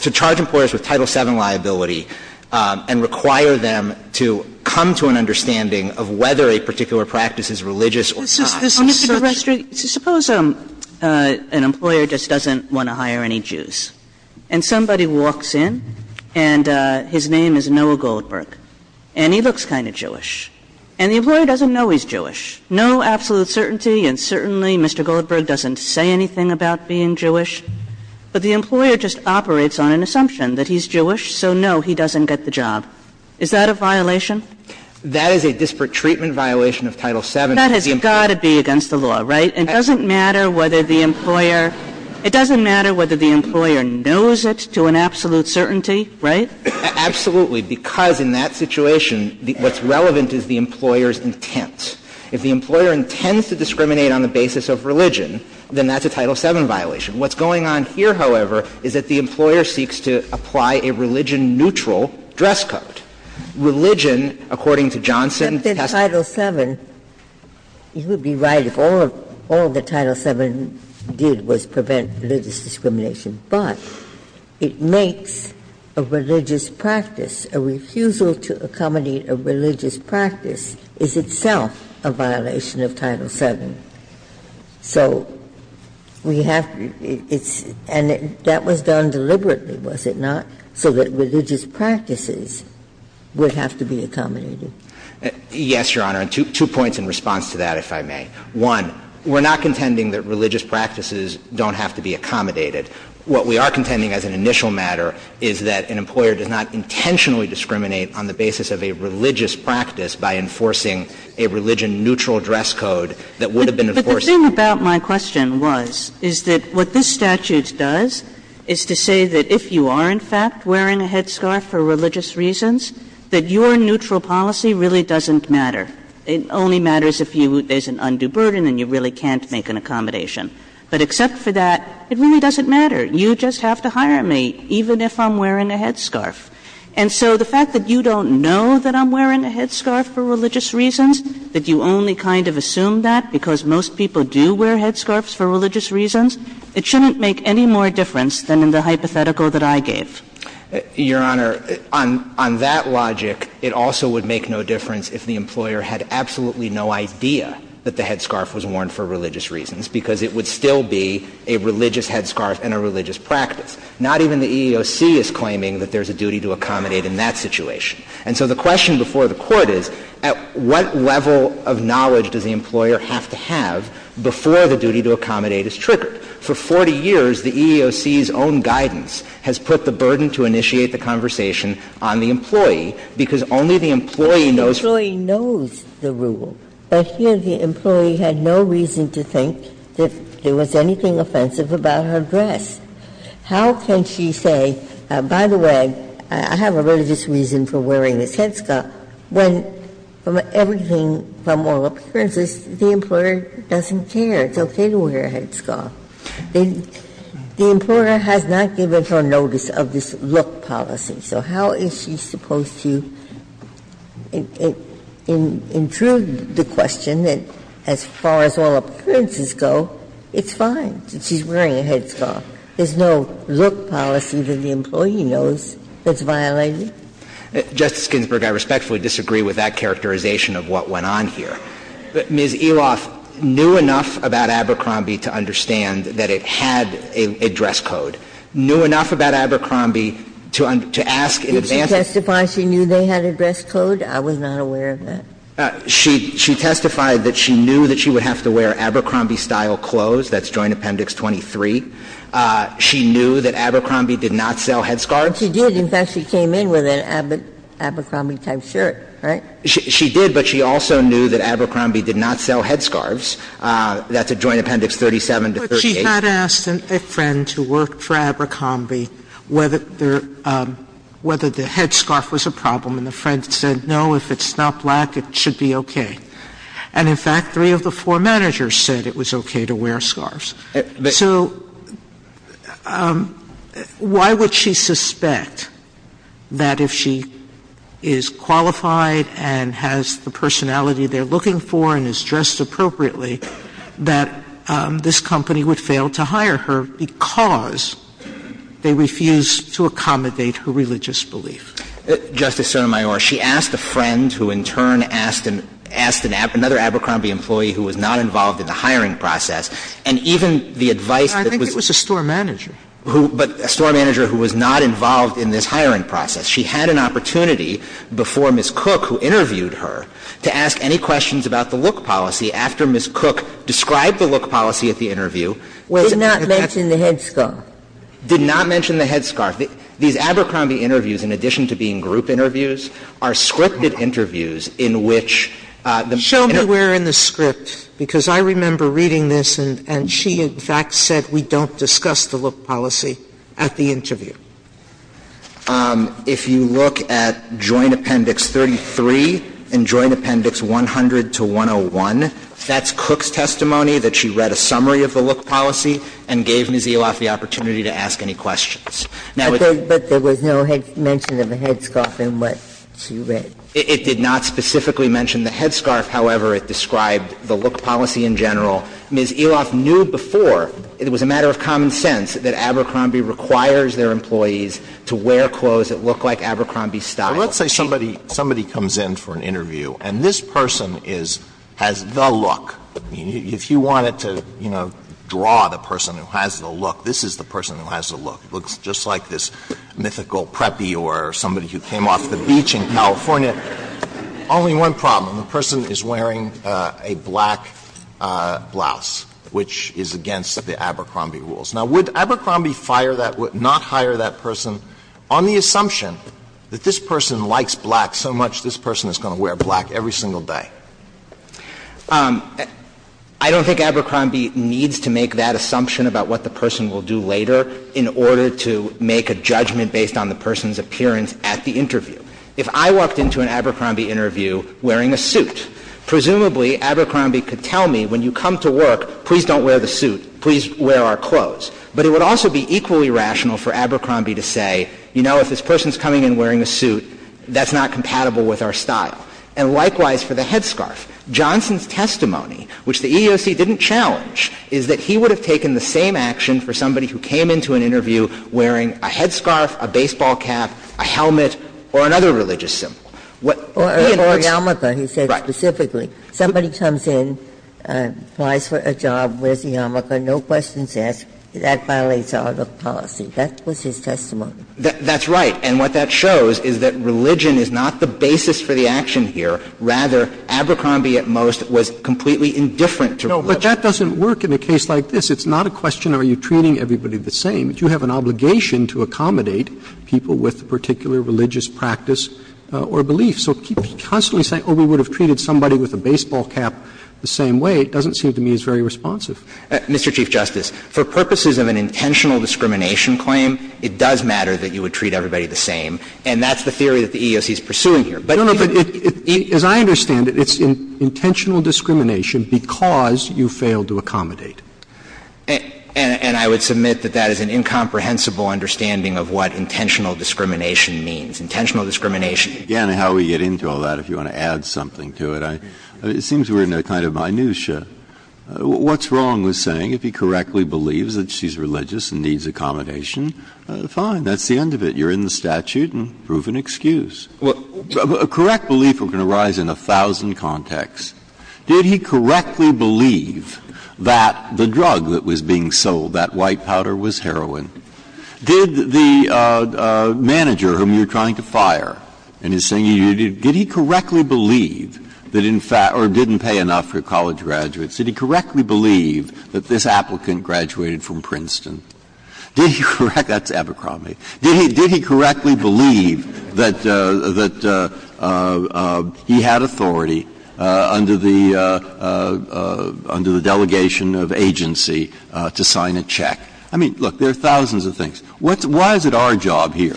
Title VII liability and require them to come to an understanding of whether a particular practice is religious or not is such. Sotomayor, suppose an employer just doesn't want to hire any Jews, and somebody walks in, and his name is Noah Goldberg, and he looks kind of Jewish, and the employer doesn't know he's Jewish. No absolute certainty, and certainly Mr. Goldberg doesn't say anything about being Jewish, but the employer just operates on an assumption that he's Jewish, so no, he doesn't get the job. Is that a violation? That is a disparate treatment violation of Title VII. That has got to be against the law, right? It doesn't matter whether the employer – it doesn't matter whether the employer knows it to an absolute certainty, right? Absolutely, because in that situation, what's relevant is the employer's intent. If the employer intends to discriminate on the basis of religion, then that's a Title VII violation. What's going on here, however, is that the employer seeks to apply a religion-neutral dress code. Religion, according to Johnson, has to be a violation of Title VII. Ginsburg, you would be right if all of the Title VII did was prevent religious discrimination, but it makes a religious practice, a refusal to accommodate a religious practice, is itself a violation of Title VII. So we have to – it's – and that was done deliberately, was it not, so that religious practices would have to be accommodated? Yes, Your Honor, and two points in response to that, if I may. One, we're not contending that religious practices don't have to be accommodated. What we are contending as an initial matter is that an employer does not intentionally discriminate on the basis of a religious practice by enforcing a religion-neutral dress code that would have been enforced. But the thing about my question was, is that what this statute does is to say that if you are, in fact, wearing a headscarf for religious reasons, that your neutral policy really doesn't matter. It only matters if you – there's an undue burden and you really can't make an accommodation. But except for that, it really doesn't matter. You just have to hire me, even if I'm wearing a headscarf. And so the fact that you don't know that I'm wearing a headscarf for religious reasons, that you only kind of assume that because most people do wear headscarves for religious reasons, it shouldn't make any more difference than in the hypothetical that I gave. Your Honor, on that logic, it also would make no difference if the employer had absolutely no idea that the headscarf was worn for religious reasons, because it would still be a religious headscarf and a religious practice. Not even the EEOC is claiming that there's a duty to accommodate in that situation. And so the question before the Court is, at what level of knowledge does the employer have to have before the duty to accommodate is triggered? For 40 years, the EEOC's own guidance has put the burden to initiate the conversation on the employee, because only the employee knows the rule. Ginsburg. But here the employee had no reason to think that there was anything offensive about her dress. How can she say, by the way, I have a religious reason for wearing this headscarf, when everything from all appearances, the employer doesn't care, it's okay to wear a headscarf? The employer has not given her notice of this look policy, so how is she supposed to intrude the question that as far as all appearances go, it's fine, that she's wearing a headscarf? There's no look policy that the employee knows that's violated? Justice Ginsburg, I respectfully disagree with that characterization of what went on here. Ms. Eloff knew enough about Abercrombie to understand that it had a dress code. Knew enough about Abercrombie to ask in advance. Did she testify she knew they had a dress code? I was not aware of that. She testified that she knew that she would have to wear Abercrombie-style clothes. That's Joint Appendix 23. She knew that Abercrombie did not sell headscarves. But she did, in fact, she came in with an Abercrombie-type shirt, right? She did, but she also knew that Abercrombie did not sell headscarves. That's at Joint Appendix 37 to 38. But she had asked a friend who worked for Abercrombie whether the headscarf was a problem, and the friend said, no, if it's not black, it should be okay. And in fact, three of the four managers said it was okay to wear scarves. So why would she suspect that if she is qualified and has the personality they're looking for and is dressed appropriately, that this company would fail to hire her because they refuse to accommodate her religious belief? Justice Sotomayor, she asked a friend who in turn asked another Abercrombie employee who was not involved in the hiring process, and even the advice that was But I think it was a store manager. But a store manager who was not involved in this hiring process. She had an opportunity before Ms. Cook, who interviewed her, to ask any questions about the look policy after Ms. Cook described the look policy at the interview. Did not mention the headscarf. Did not mention the headscarf. These Abercrombie interviews, in addition to being group interviews, are scripted interviews in which the And show me where in the script, because I remember reading this, and she, in fact, said we don't discuss the look policy at the interview. If you look at Joint Appendix 33 and Joint Appendix 100 to 101, that's Cook's testimony that she read a summary of the look policy and gave Ms. Eloff the opportunity to ask any questions. But there was no mention of a headscarf in what she read. It did not specifically mention the headscarf. However, it described the look policy in general. Ms. Eloff knew before it was a matter of common sense that Abercrombie requires their employees to wear clothes that look like Abercrombie style. Alito, let's say somebody comes in for an interview and this person has the look. If you wanted to, you know, draw the person who has the look, this is the person who has the look. Looks just like this mythical preppy or somebody who came off the beach in California or something like that. Only one problem, the person is wearing a black blouse, which is against the Abercrombie rules. Now, would Abercrombie fire that, not hire that person on the assumption that this person likes black so much this person is going to wear black every single day? I don't think Abercrombie needs to make that assumption about what the person will do later in order to make a judgment based on the person's appearance at the interview. If I walked into an Abercrombie interview wearing a suit, presumably Abercrombie could tell me when you come to work, please don't wear the suit, please wear our clothes. But it would also be equally rational for Abercrombie to say, you know, if this person is coming in wearing a suit, that's not compatible with our style. And likewise for the headscarf. Johnson's testimony, which the EEOC didn't challenge, is that he would have taken the same action for somebody who came into an interview wearing a headscarf, a baseball cap, a helmet, or another religious symbol. who came into an interview wearing a headscarf, a baseball cap, a helmet, or another religious symbol. Ginsburg. Or a yarmulke, he said specifically. Somebody comes in, applies for a job, wears a yarmulke, no questions asked, that violates our policy. That was his testimony. That's right. And what that shows is that religion is not the basis for the action here. Rather, Abercrombie at most was completely indifferent to religion. No, but that doesn't work in a case like this. It's not a question, are you treating everybody the same? You have an obligation to accommodate people with a particular religious practice or belief. So to keep constantly saying, oh, we would have treated somebody with a baseball cap the same way, it doesn't seem to me it's very responsive. Mr. Chief Justice, for purposes of an intentional discrimination claim, it does matter that you would treat everybody the same, and that's the theory that the EEOC is pursuing here. But it's intentional discrimination because you fail to accommodate. And I would submit that that is an incomprehensible understanding of what intentional discrimination means. Intentional discrimination. Again, how we get into all that, if you want to add something to it, it seems we're in a kind of minutia. What's wrong with saying if he correctly believes that she's religious and needs accommodation, fine, that's the end of it. You're in the statute and proven excuse. A correct belief can arise in a thousand contexts. Did he correctly believe that the drug that was being sold, that white powder, was heroin? Did the manager whom you're trying to fire, and he's saying, did he correctly believe that in fact or didn't pay enough for college graduates, did he correctly believe that this applicant graduated from Princeton? That's Abercrombie. Did he correctly believe that he had authority under the delegation of agency to sign a check? I mean, look, there are thousands of things. Why is it our job here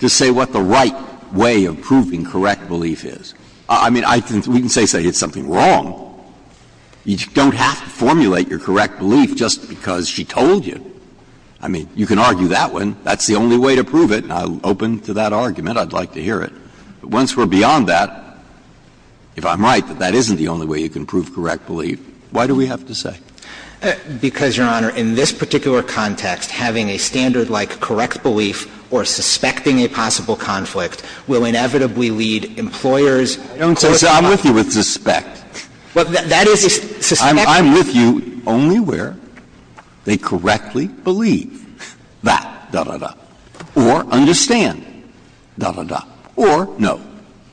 to say what the right way of proving correct belief is? I mean, we can say, say, it's something wrong. You don't have to formulate your correct belief just because she told you. I mean, you can argue that one. That's the only way to prove it, and I'm open to that argument. I'd like to hear it. But once we're beyond that, if I'm right, that that isn't the only way you can prove correct belief, why do we have to say? Because, Your Honor, in this particular context, having a standard like correct belief or suspecting a possible conflict will inevitably lead employers closer to the truth. I'm with you with suspect. Well, that is a suspect. I'm with you only where they correctly believe that. Or understand, da, da, da. Or no.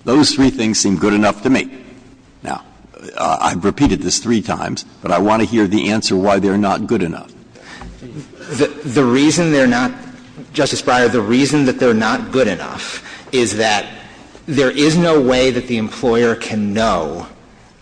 Those three things seem good enough to me. Now, I've repeated this three times, but I want to hear the answer why they're not good enough. The reason they're not, Justice Breyer, the reason that they're not good enough is that there is no way that the employer can know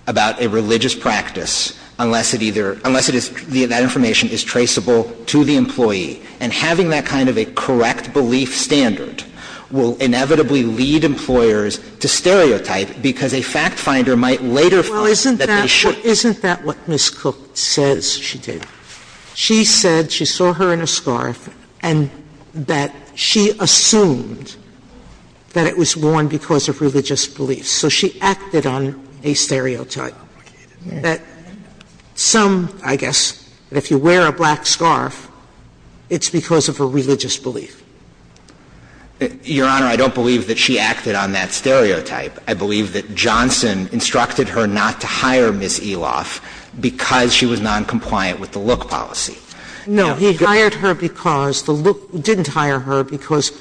about a religious practice unless it either — unless it is — that information is traceable to the employee. And having that kind of a correct belief standard will inevitably lead employers to stereotype because a fact finder might later find that they should. Well, isn't that what Ms. Cook says she did? She said she saw her in a scarf and that she assumed that it was worn because of religious beliefs. So she acted on a stereotype. Some, I guess, if you wear a black scarf, it's because of a religious belief. Your Honor, I don't believe that she acted on that stereotype. I believe that Johnson instructed her not to hire Ms. Eloff because she was noncompliant with the look policy. No. He hired her because the look — didn't hire her because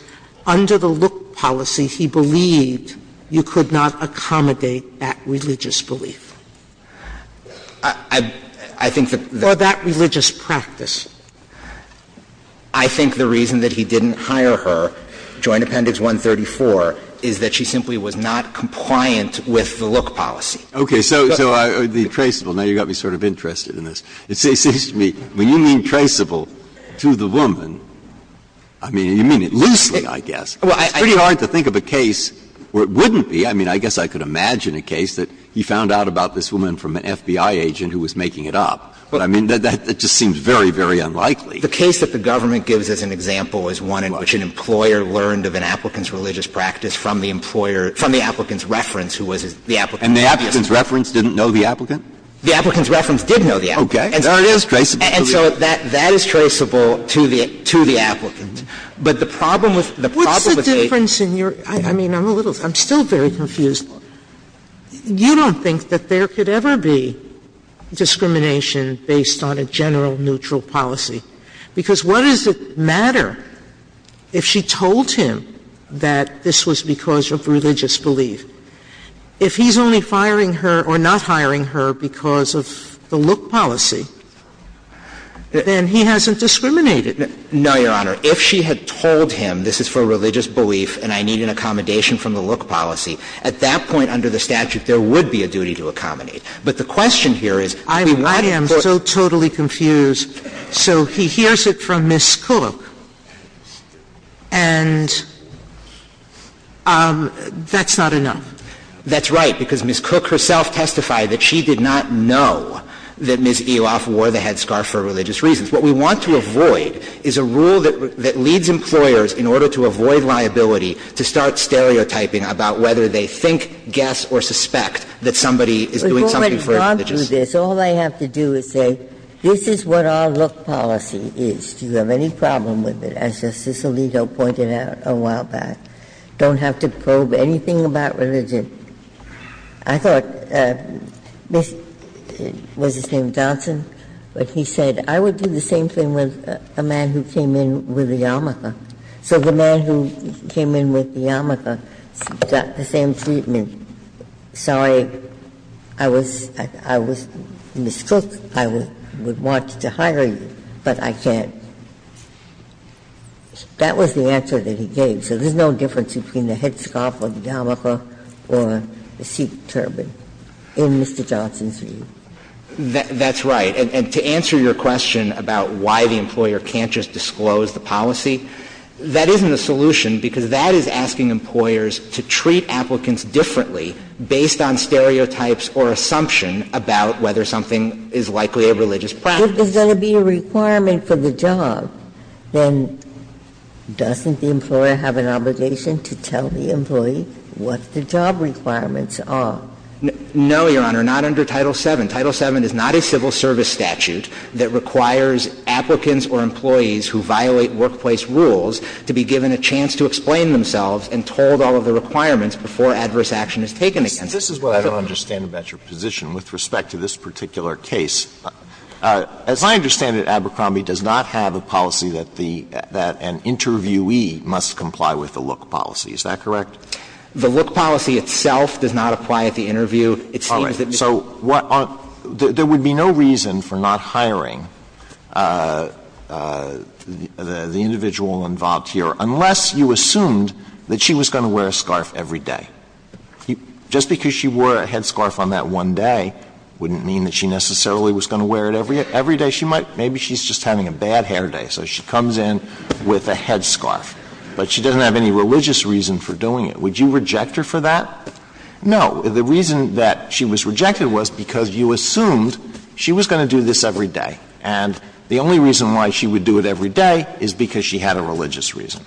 under the look policy, he believed you could not accommodate that religious belief. I think that the — For that religious practice. I think the reason that he didn't hire her, Joint Appendix 134, is that she simply was not compliant with the look policy. Okay. So the traceable — now you've got me sort of interested in this. It seems to me when you mean traceable to the woman, I mean, you mean it loosely, I guess. It's pretty hard to think of a case where it wouldn't be. I mean, I guess I could imagine a case that he found out about this woman from an FBI agent who was making it up. But I mean, that just seems very, very unlikely. The case that the government gives as an example is one in which an employer learned of an applicant's religious practice from the employer — from the applicant's reference, who was the applicant. And the applicant's reference didn't know the applicant? The applicant's reference did know the applicant. Okay. There it is, traceable. But the problem with the problem with this case is that it's not traceable to the woman. And so there's a difference in your — I mean, I'm a little — I'm still very confused. You don't think that there could ever be discrimination based on a general, neutral policy, because what does it matter if she told him that this was because of religious belief? If he's only firing her or not hiring her because of the look policy, then he hasn't discriminated. No, Your Honor. If she had told him this is for religious belief and I need an accommodation from the look policy, at that point under the statute, there would be a duty to accommodate. But the question here is, we want to put — I am so totally confused. So he hears it from Ms. Cook, and that's not enough. That's right, because Ms. Cook herself testified that she did not know that Ms. Eloff wore the headscarf for religious reasons. What we want to avoid is a rule that leads employers, in order to avoid liability, to start stereotyping about whether they think, guess, or suspect that somebody is doing something for a religious reason. Ginsburg. But going on through this, all I have to do is say, this is what our look policy is. Do you have any problem with it? As Justice Alito pointed out a while back, don't have to probe anything about religion. I thought Ms. — what's his name, Johnson, but he said, I would do the same thing with a man who came in with a yarmulke. So the man who came in with the yarmulke got the same treatment. Sorry, I was — Ms. Cook, I would want to hire you, but I can't. That was the answer that he gave. So there's no difference between the headscarf or the yarmulke or the seat turban in Mr. Johnson's view. That's right. And to answer your question about why the employer can't just disclose the policy, that isn't a solution, because that is asking employers to treat applicants differently based on stereotypes or assumption about whether something is likely a religious practice. If there's going to be a requirement for the job, then doesn't the employer have an obligation to tell the employee what the job requirements are? No, Your Honor, not under Title VII. Title VII is not a civil service statute that requires applicants or employees who violate workplace rules to be given a chance to explain themselves and told all of the requirements before adverse action is taken against them. Alito, this is what I don't understand about your position with respect to this particular case. As I understand it, Abercrombie does not have a policy that the — that an interviewee must comply with the look policy. Is that correct? The look policy itself does not apply at the interview. It seems that Mr. Johnson's view is that the employee must comply with the look policy. All right. So what are — there would be no reason for not hiring the individual involved here unless you assumed that she was going to wear a scarf every day. Just because she wore a headscarf on that one day wouldn't mean that she necessarily was going to wear it every day. She might — maybe she's just having a bad hair day, so she comes in with a headscarf, but she doesn't have any religious reason for doing it. Would you reject her for that? No. The reason that she was rejected was because you assumed she was going to do this every day. And the only reason why she would do it every day is because she had a religious reason.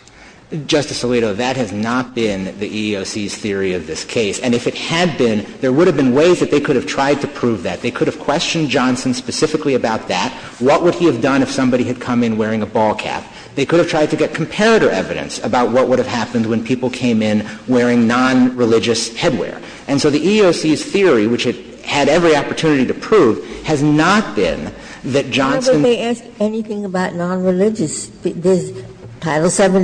Justice Alito, that has not been the EEOC's theory of this case. And if it had been, there would have been ways that they could have tried to prove that. They could have questioned Johnson specifically about that. What would he have done if somebody had come in wearing a ball cap? They could have tried to get comparator evidence about what would have happened when people came in wearing nonreligious headwear. And so the EEOC's theory, which it had every opportunity to prove, has not been that Johnson — It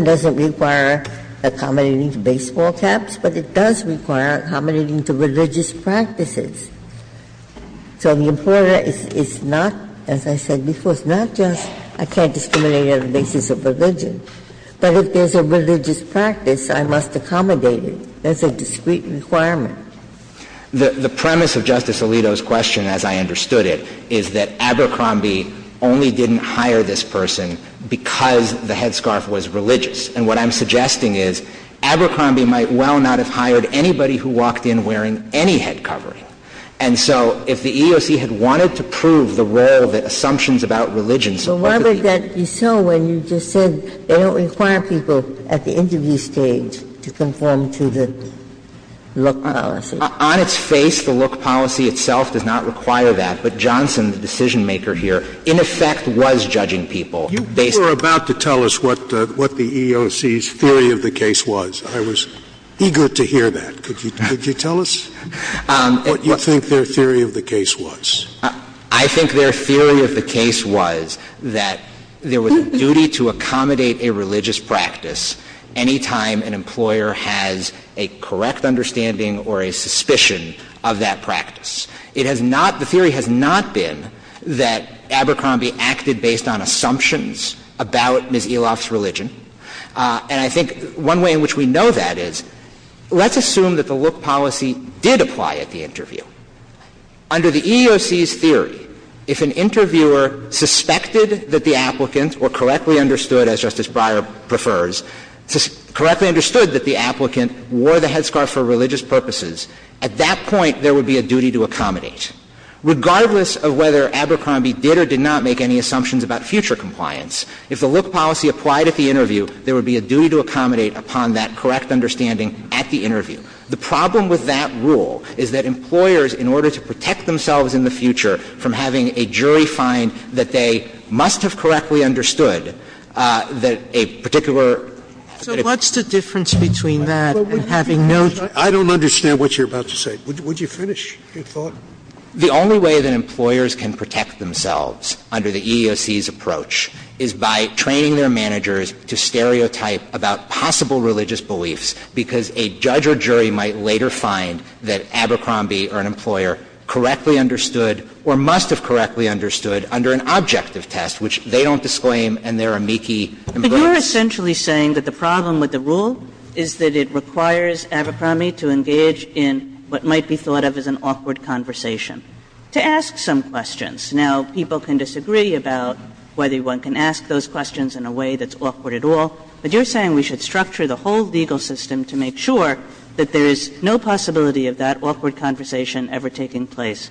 doesn't require accommodating to baseball caps, but it does require accommodating to religious practices. So the employer is not, as I said before, is not just, I can't discriminate on the basis of religion, but if there's a religious practice, I must accommodate it. That's a discrete requirement. The premise of Justice Alito's question, as I understood it, is that Abercrombie only didn't hire this person because the headscarf was religious. And what I'm suggesting is Abercrombie might well not have hired anybody who walked in wearing any head covering. And so if the EEOC had wanted to prove the role that assumptions about religion supported. Ginsburg. But why would that be so when you just said they don't require people at the interview stage to conform to the look policy? On its face, the look policy itself does not require that. But Johnson, the decision-maker here, in effect was judging people based on the look policy. Scalia. You were about to tell us what the EEOC's theory of the case was. I was eager to hear that. Could you tell us what you think their theory of the case was? I think their theory of the case was that there was a duty to accommodate a religious practice any time an employer has a correct understanding or a suspicion of that practice. It has not – the theory has not been that Abercrombie acted based on assumptions about Ms. Eloff's religion. And I think one way in which we know that is, let's assume that the look policy did apply at the interview. Under the EEOC's theory, if an interviewer suspected that the applicant, or correctly understood, as Justice Breyer prefers, correctly understood that the applicant wore the headscarf for religious purposes, at that point there would be a duty to accommodate. Regardless of whether Abercrombie did or did not make any assumptions about future compliance, if the look policy applied at the interview, there would be a duty to accommodate upon that correct understanding at the interview. The problem with that rule is that employers, in order to protect themselves in the future from having a jury find that they must have correctly understood that a particular – Sotomayor, so what's the difference between that and having no – I don't understand what you're about to say. Would you finish your thought? The only way that employers can protect themselves under the EEOC's approach is by training their managers to stereotype about possible religious beliefs, because a judge or jury might later find that Abercrombie or an employer correctly understood or must have correctly understood under an objective test, which they don't disclaim and they're amici. But you're essentially saying that the problem with the rule is that it requires Abercrombie to engage in what might be thought of as an awkward conversation to ask some questions. Now, people can disagree about whether one can ask those questions in a way that's awkward at all, but you're saying we should structure the whole legal system to make sure that there is no possibility of that awkward conversation ever taking place.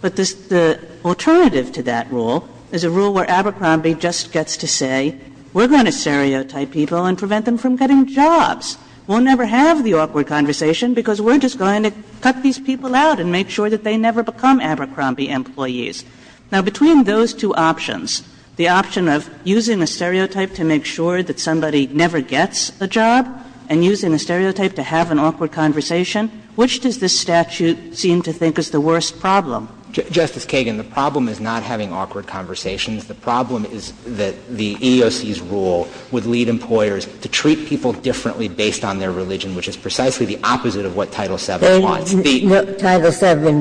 But the alternative to that rule is a rule where Abercrombie just gets to say, well, we're going to stereotype people and prevent them from getting jobs. We'll never have the awkward conversation because we're just going to cut these people out and make sure that they never become Abercrombie employees. Now, between those two options, the option of using a stereotype to make sure that somebody never gets a job and using a stereotype to have an awkward conversation, which does this statute seem to think is the worst problem? Justice Kagan, the problem is not having awkward conversations. The problem is that the EEOC's rule would lead employers to treat people differently based on their religion, which is precisely the opposite of what Title VII wants. The other thing is that Title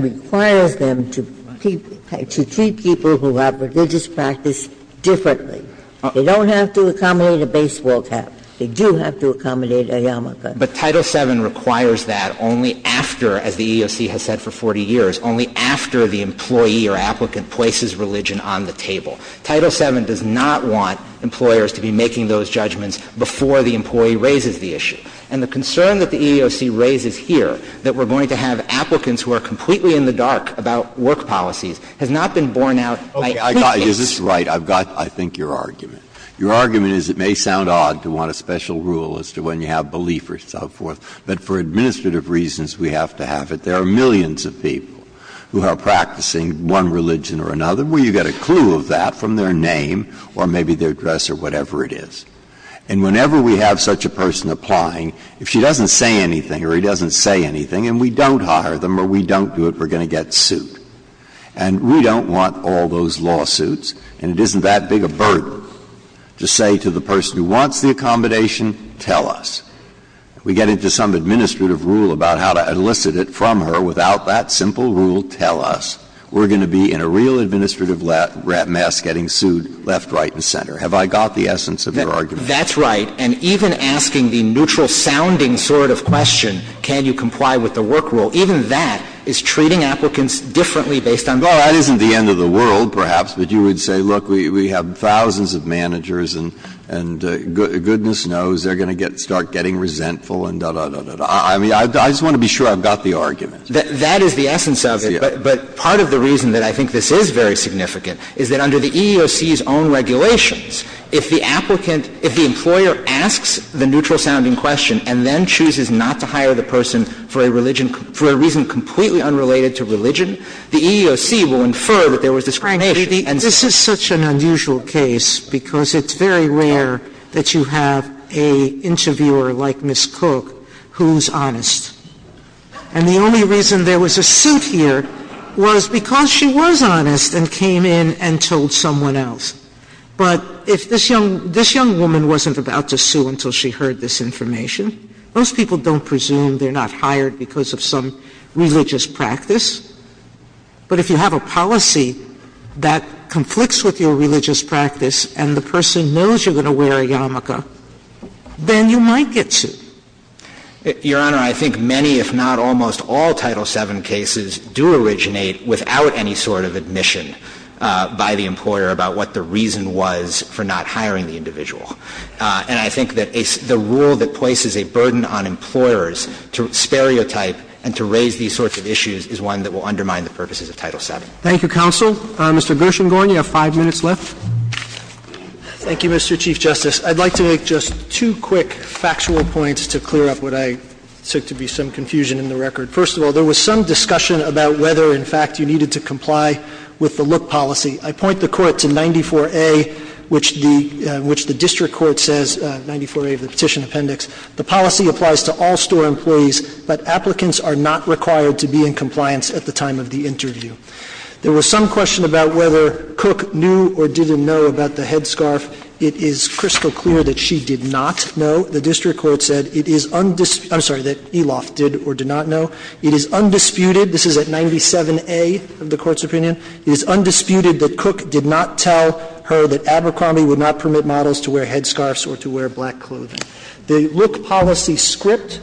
VII requires them to treat people who have religious practice differently. They don't have to accommodate a baseball cap. They do have to accommodate a yarmulke. But Title VII requires that only after, as the EEOC has said for 40 years, only after the employee or applicant places religion on the table. Title VII does not want employers to be making those judgments before the employee raises the issue. And the concern that the EEOC raises here, that we're going to have applicants who are completely in the dark about work policies, has not been borne out by any case. Breyer, is this right? I've got, I think, your argument. Your argument is it may sound odd to want a special rule as to when you have belief or so forth, but for administrative reasons we have to have it. There are millions of people who are practicing one religion or another where you get a clue of that from their name or maybe their dress or whatever it is. And whenever we have such a person applying, if she doesn't say anything or he doesn't say anything and we don't hire them or we don't do it, we're going to get sued. And we don't want all those lawsuits, and it isn't that big a burden to say to the person who wants the accommodation, tell us. We get into some administrative rule about how to elicit it from her without that simple rule, tell us. We're going to be in a real administrative mess getting sued left, right, and center. Have I got the essence of your argument? That's right. And even asking the neutral-sounding sort of question, can you comply with the work rule, even that is treating applicants differently based on the work rules. Well, that isn't the end of the world, perhaps, but you would say, look, we have thousands of managers and goodness knows they're going to start getting resentful and da, da, da, da, da. I mean, I just want to be sure I've got the argument. That is the essence of it, but part of the reason that I think this is very significant is that under the EEOC's own regulations, if the applicant, if the employer asks the neutral-sounding question and then chooses not to hire the person for a religion for a reason completely unrelated to religion, the EEOC will infer that there was discrimination. And this is such an unusual case because it's very rare that you have an interviewer like Ms. Cook who's honest. And the only reason there was a suit here was because she was honest and came in and told someone else. But if this young woman wasn't about to sue until she heard this information, most people don't presume they're not hired because of some religious practice. But if you have a policy that conflicts with your religious practice and the person knows you're going to wear a yarmulke, then you might get sued. Your Honor, I think many, if not almost all, Title VII cases do originate without any sort of admission by the employer about what the reason was for not hiring the individual. And I think that the rule that places a burden on employers to stereotype and to raise these sorts of issues is one that will undermine the purposes of Title VII. Thank you, counsel. Mr. Gershengorn, you have 5 minutes left. Thank you, Mr. Chief Justice. I'd like to make just two quick factual points to clear up what I took to be some confusion in the record. First of all, there was some discussion about whether, in fact, you needed to comply with the look policy. I point the Court to 94A, which the district court says, 94A of the petition appendix. The policy applies to all store employees, but applicants are not required to be in compliance at the time of the interview. There was some question about whether Cook knew or didn't know about the headscarf. It is crystal clear that she did not know. The district court said it is undisputed — I'm sorry, that Eloff did or did not know. It is undisputed — this is at 97A of the Court's opinion — it is undisputed that Cook did not tell her that Abercrombie would not permit models to wear headscarfs or to wear black clothing. The look policy script,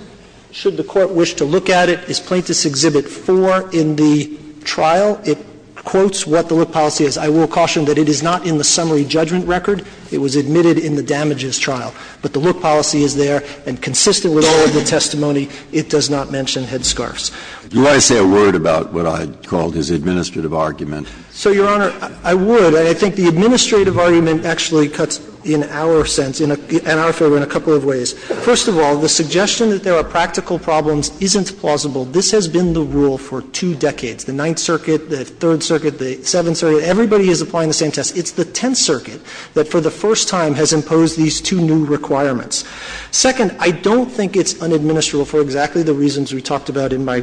should the Court wish to look at it, is Plaintiffs' Exhibit 4 in the trial. It quotes what the look policy is. I will caution that it is not in the summary judgment record. It was admitted in the damages trial. But the look policy is there, and consistent with all of the testimony, it does not mention headscarfs. Do you want to say a word about what I called his administrative argument? So, Your Honor, I would. And I think the administrative argument actually cuts in our sense, in our favor, in a couple of ways. First of all, the suggestion that there are practical problems isn't plausible. This has been the rule for two decades. The Ninth Circuit, the Third Circuit, the Seventh Circuit, everybody is applying the same test. It's the Tenth Circuit that for the first time has imposed these two new requirements. Second, I don't think it's unadministerable for exactly the reasons we talked about in my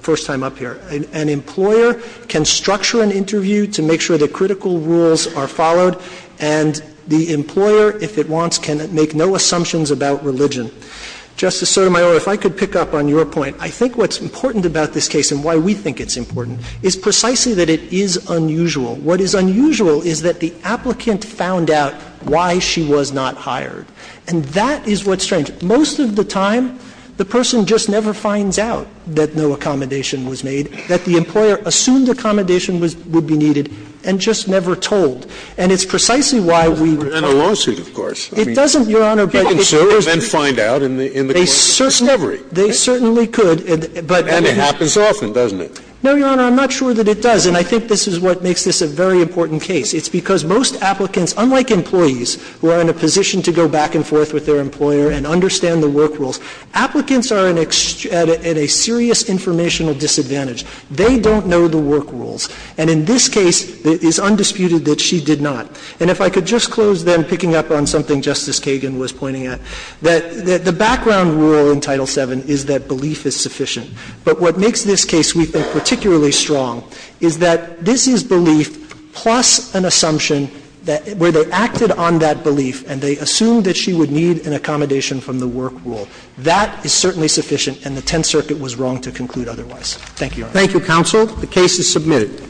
first time up here. An employer can structure an interview to make sure that critical rules are followed, and the employer, if it wants, can make no assumptions about religion. Justice Sotomayor, if I could pick up on your point, I think what's important about this case and why we think it's important is precisely that it is unusual. What is unusual is that the applicant found out why she was not hired. And that is what's strange. Most of the time, the person just never finds out that no accommodation was made, that the employer assumed accommodation would be needed, and just never told. And it's precisely why we would find out. Scalia, in a lawsuit, of course. It doesn't, Your Honor, but it's precisely the case. But can surers then find out in the course of the discovery? They certainly could, but they didn't. And it happens often, doesn't it? No, Your Honor, I'm not sure that it does. And I think this is what makes this a very important case. It's because most applicants, unlike employees who are in a position to go back and look at the employer and understand the work rules, applicants are at a serious informational disadvantage. They don't know the work rules. And in this case, it is undisputed that she did not. And if I could just close, then, picking up on something Justice Kagan was pointing at, that the background rule in Title VII is that belief is sufficient. But what makes this case, we think, particularly strong is that this is belief plus an assumption that where they acted on that belief and they assumed that she would need an accommodation from the work rule. That is certainly sufficient, and the Tenth Circuit was wrong to conclude otherwise. Thank you, Your Honor. Thank you, counsel. The case is submitted.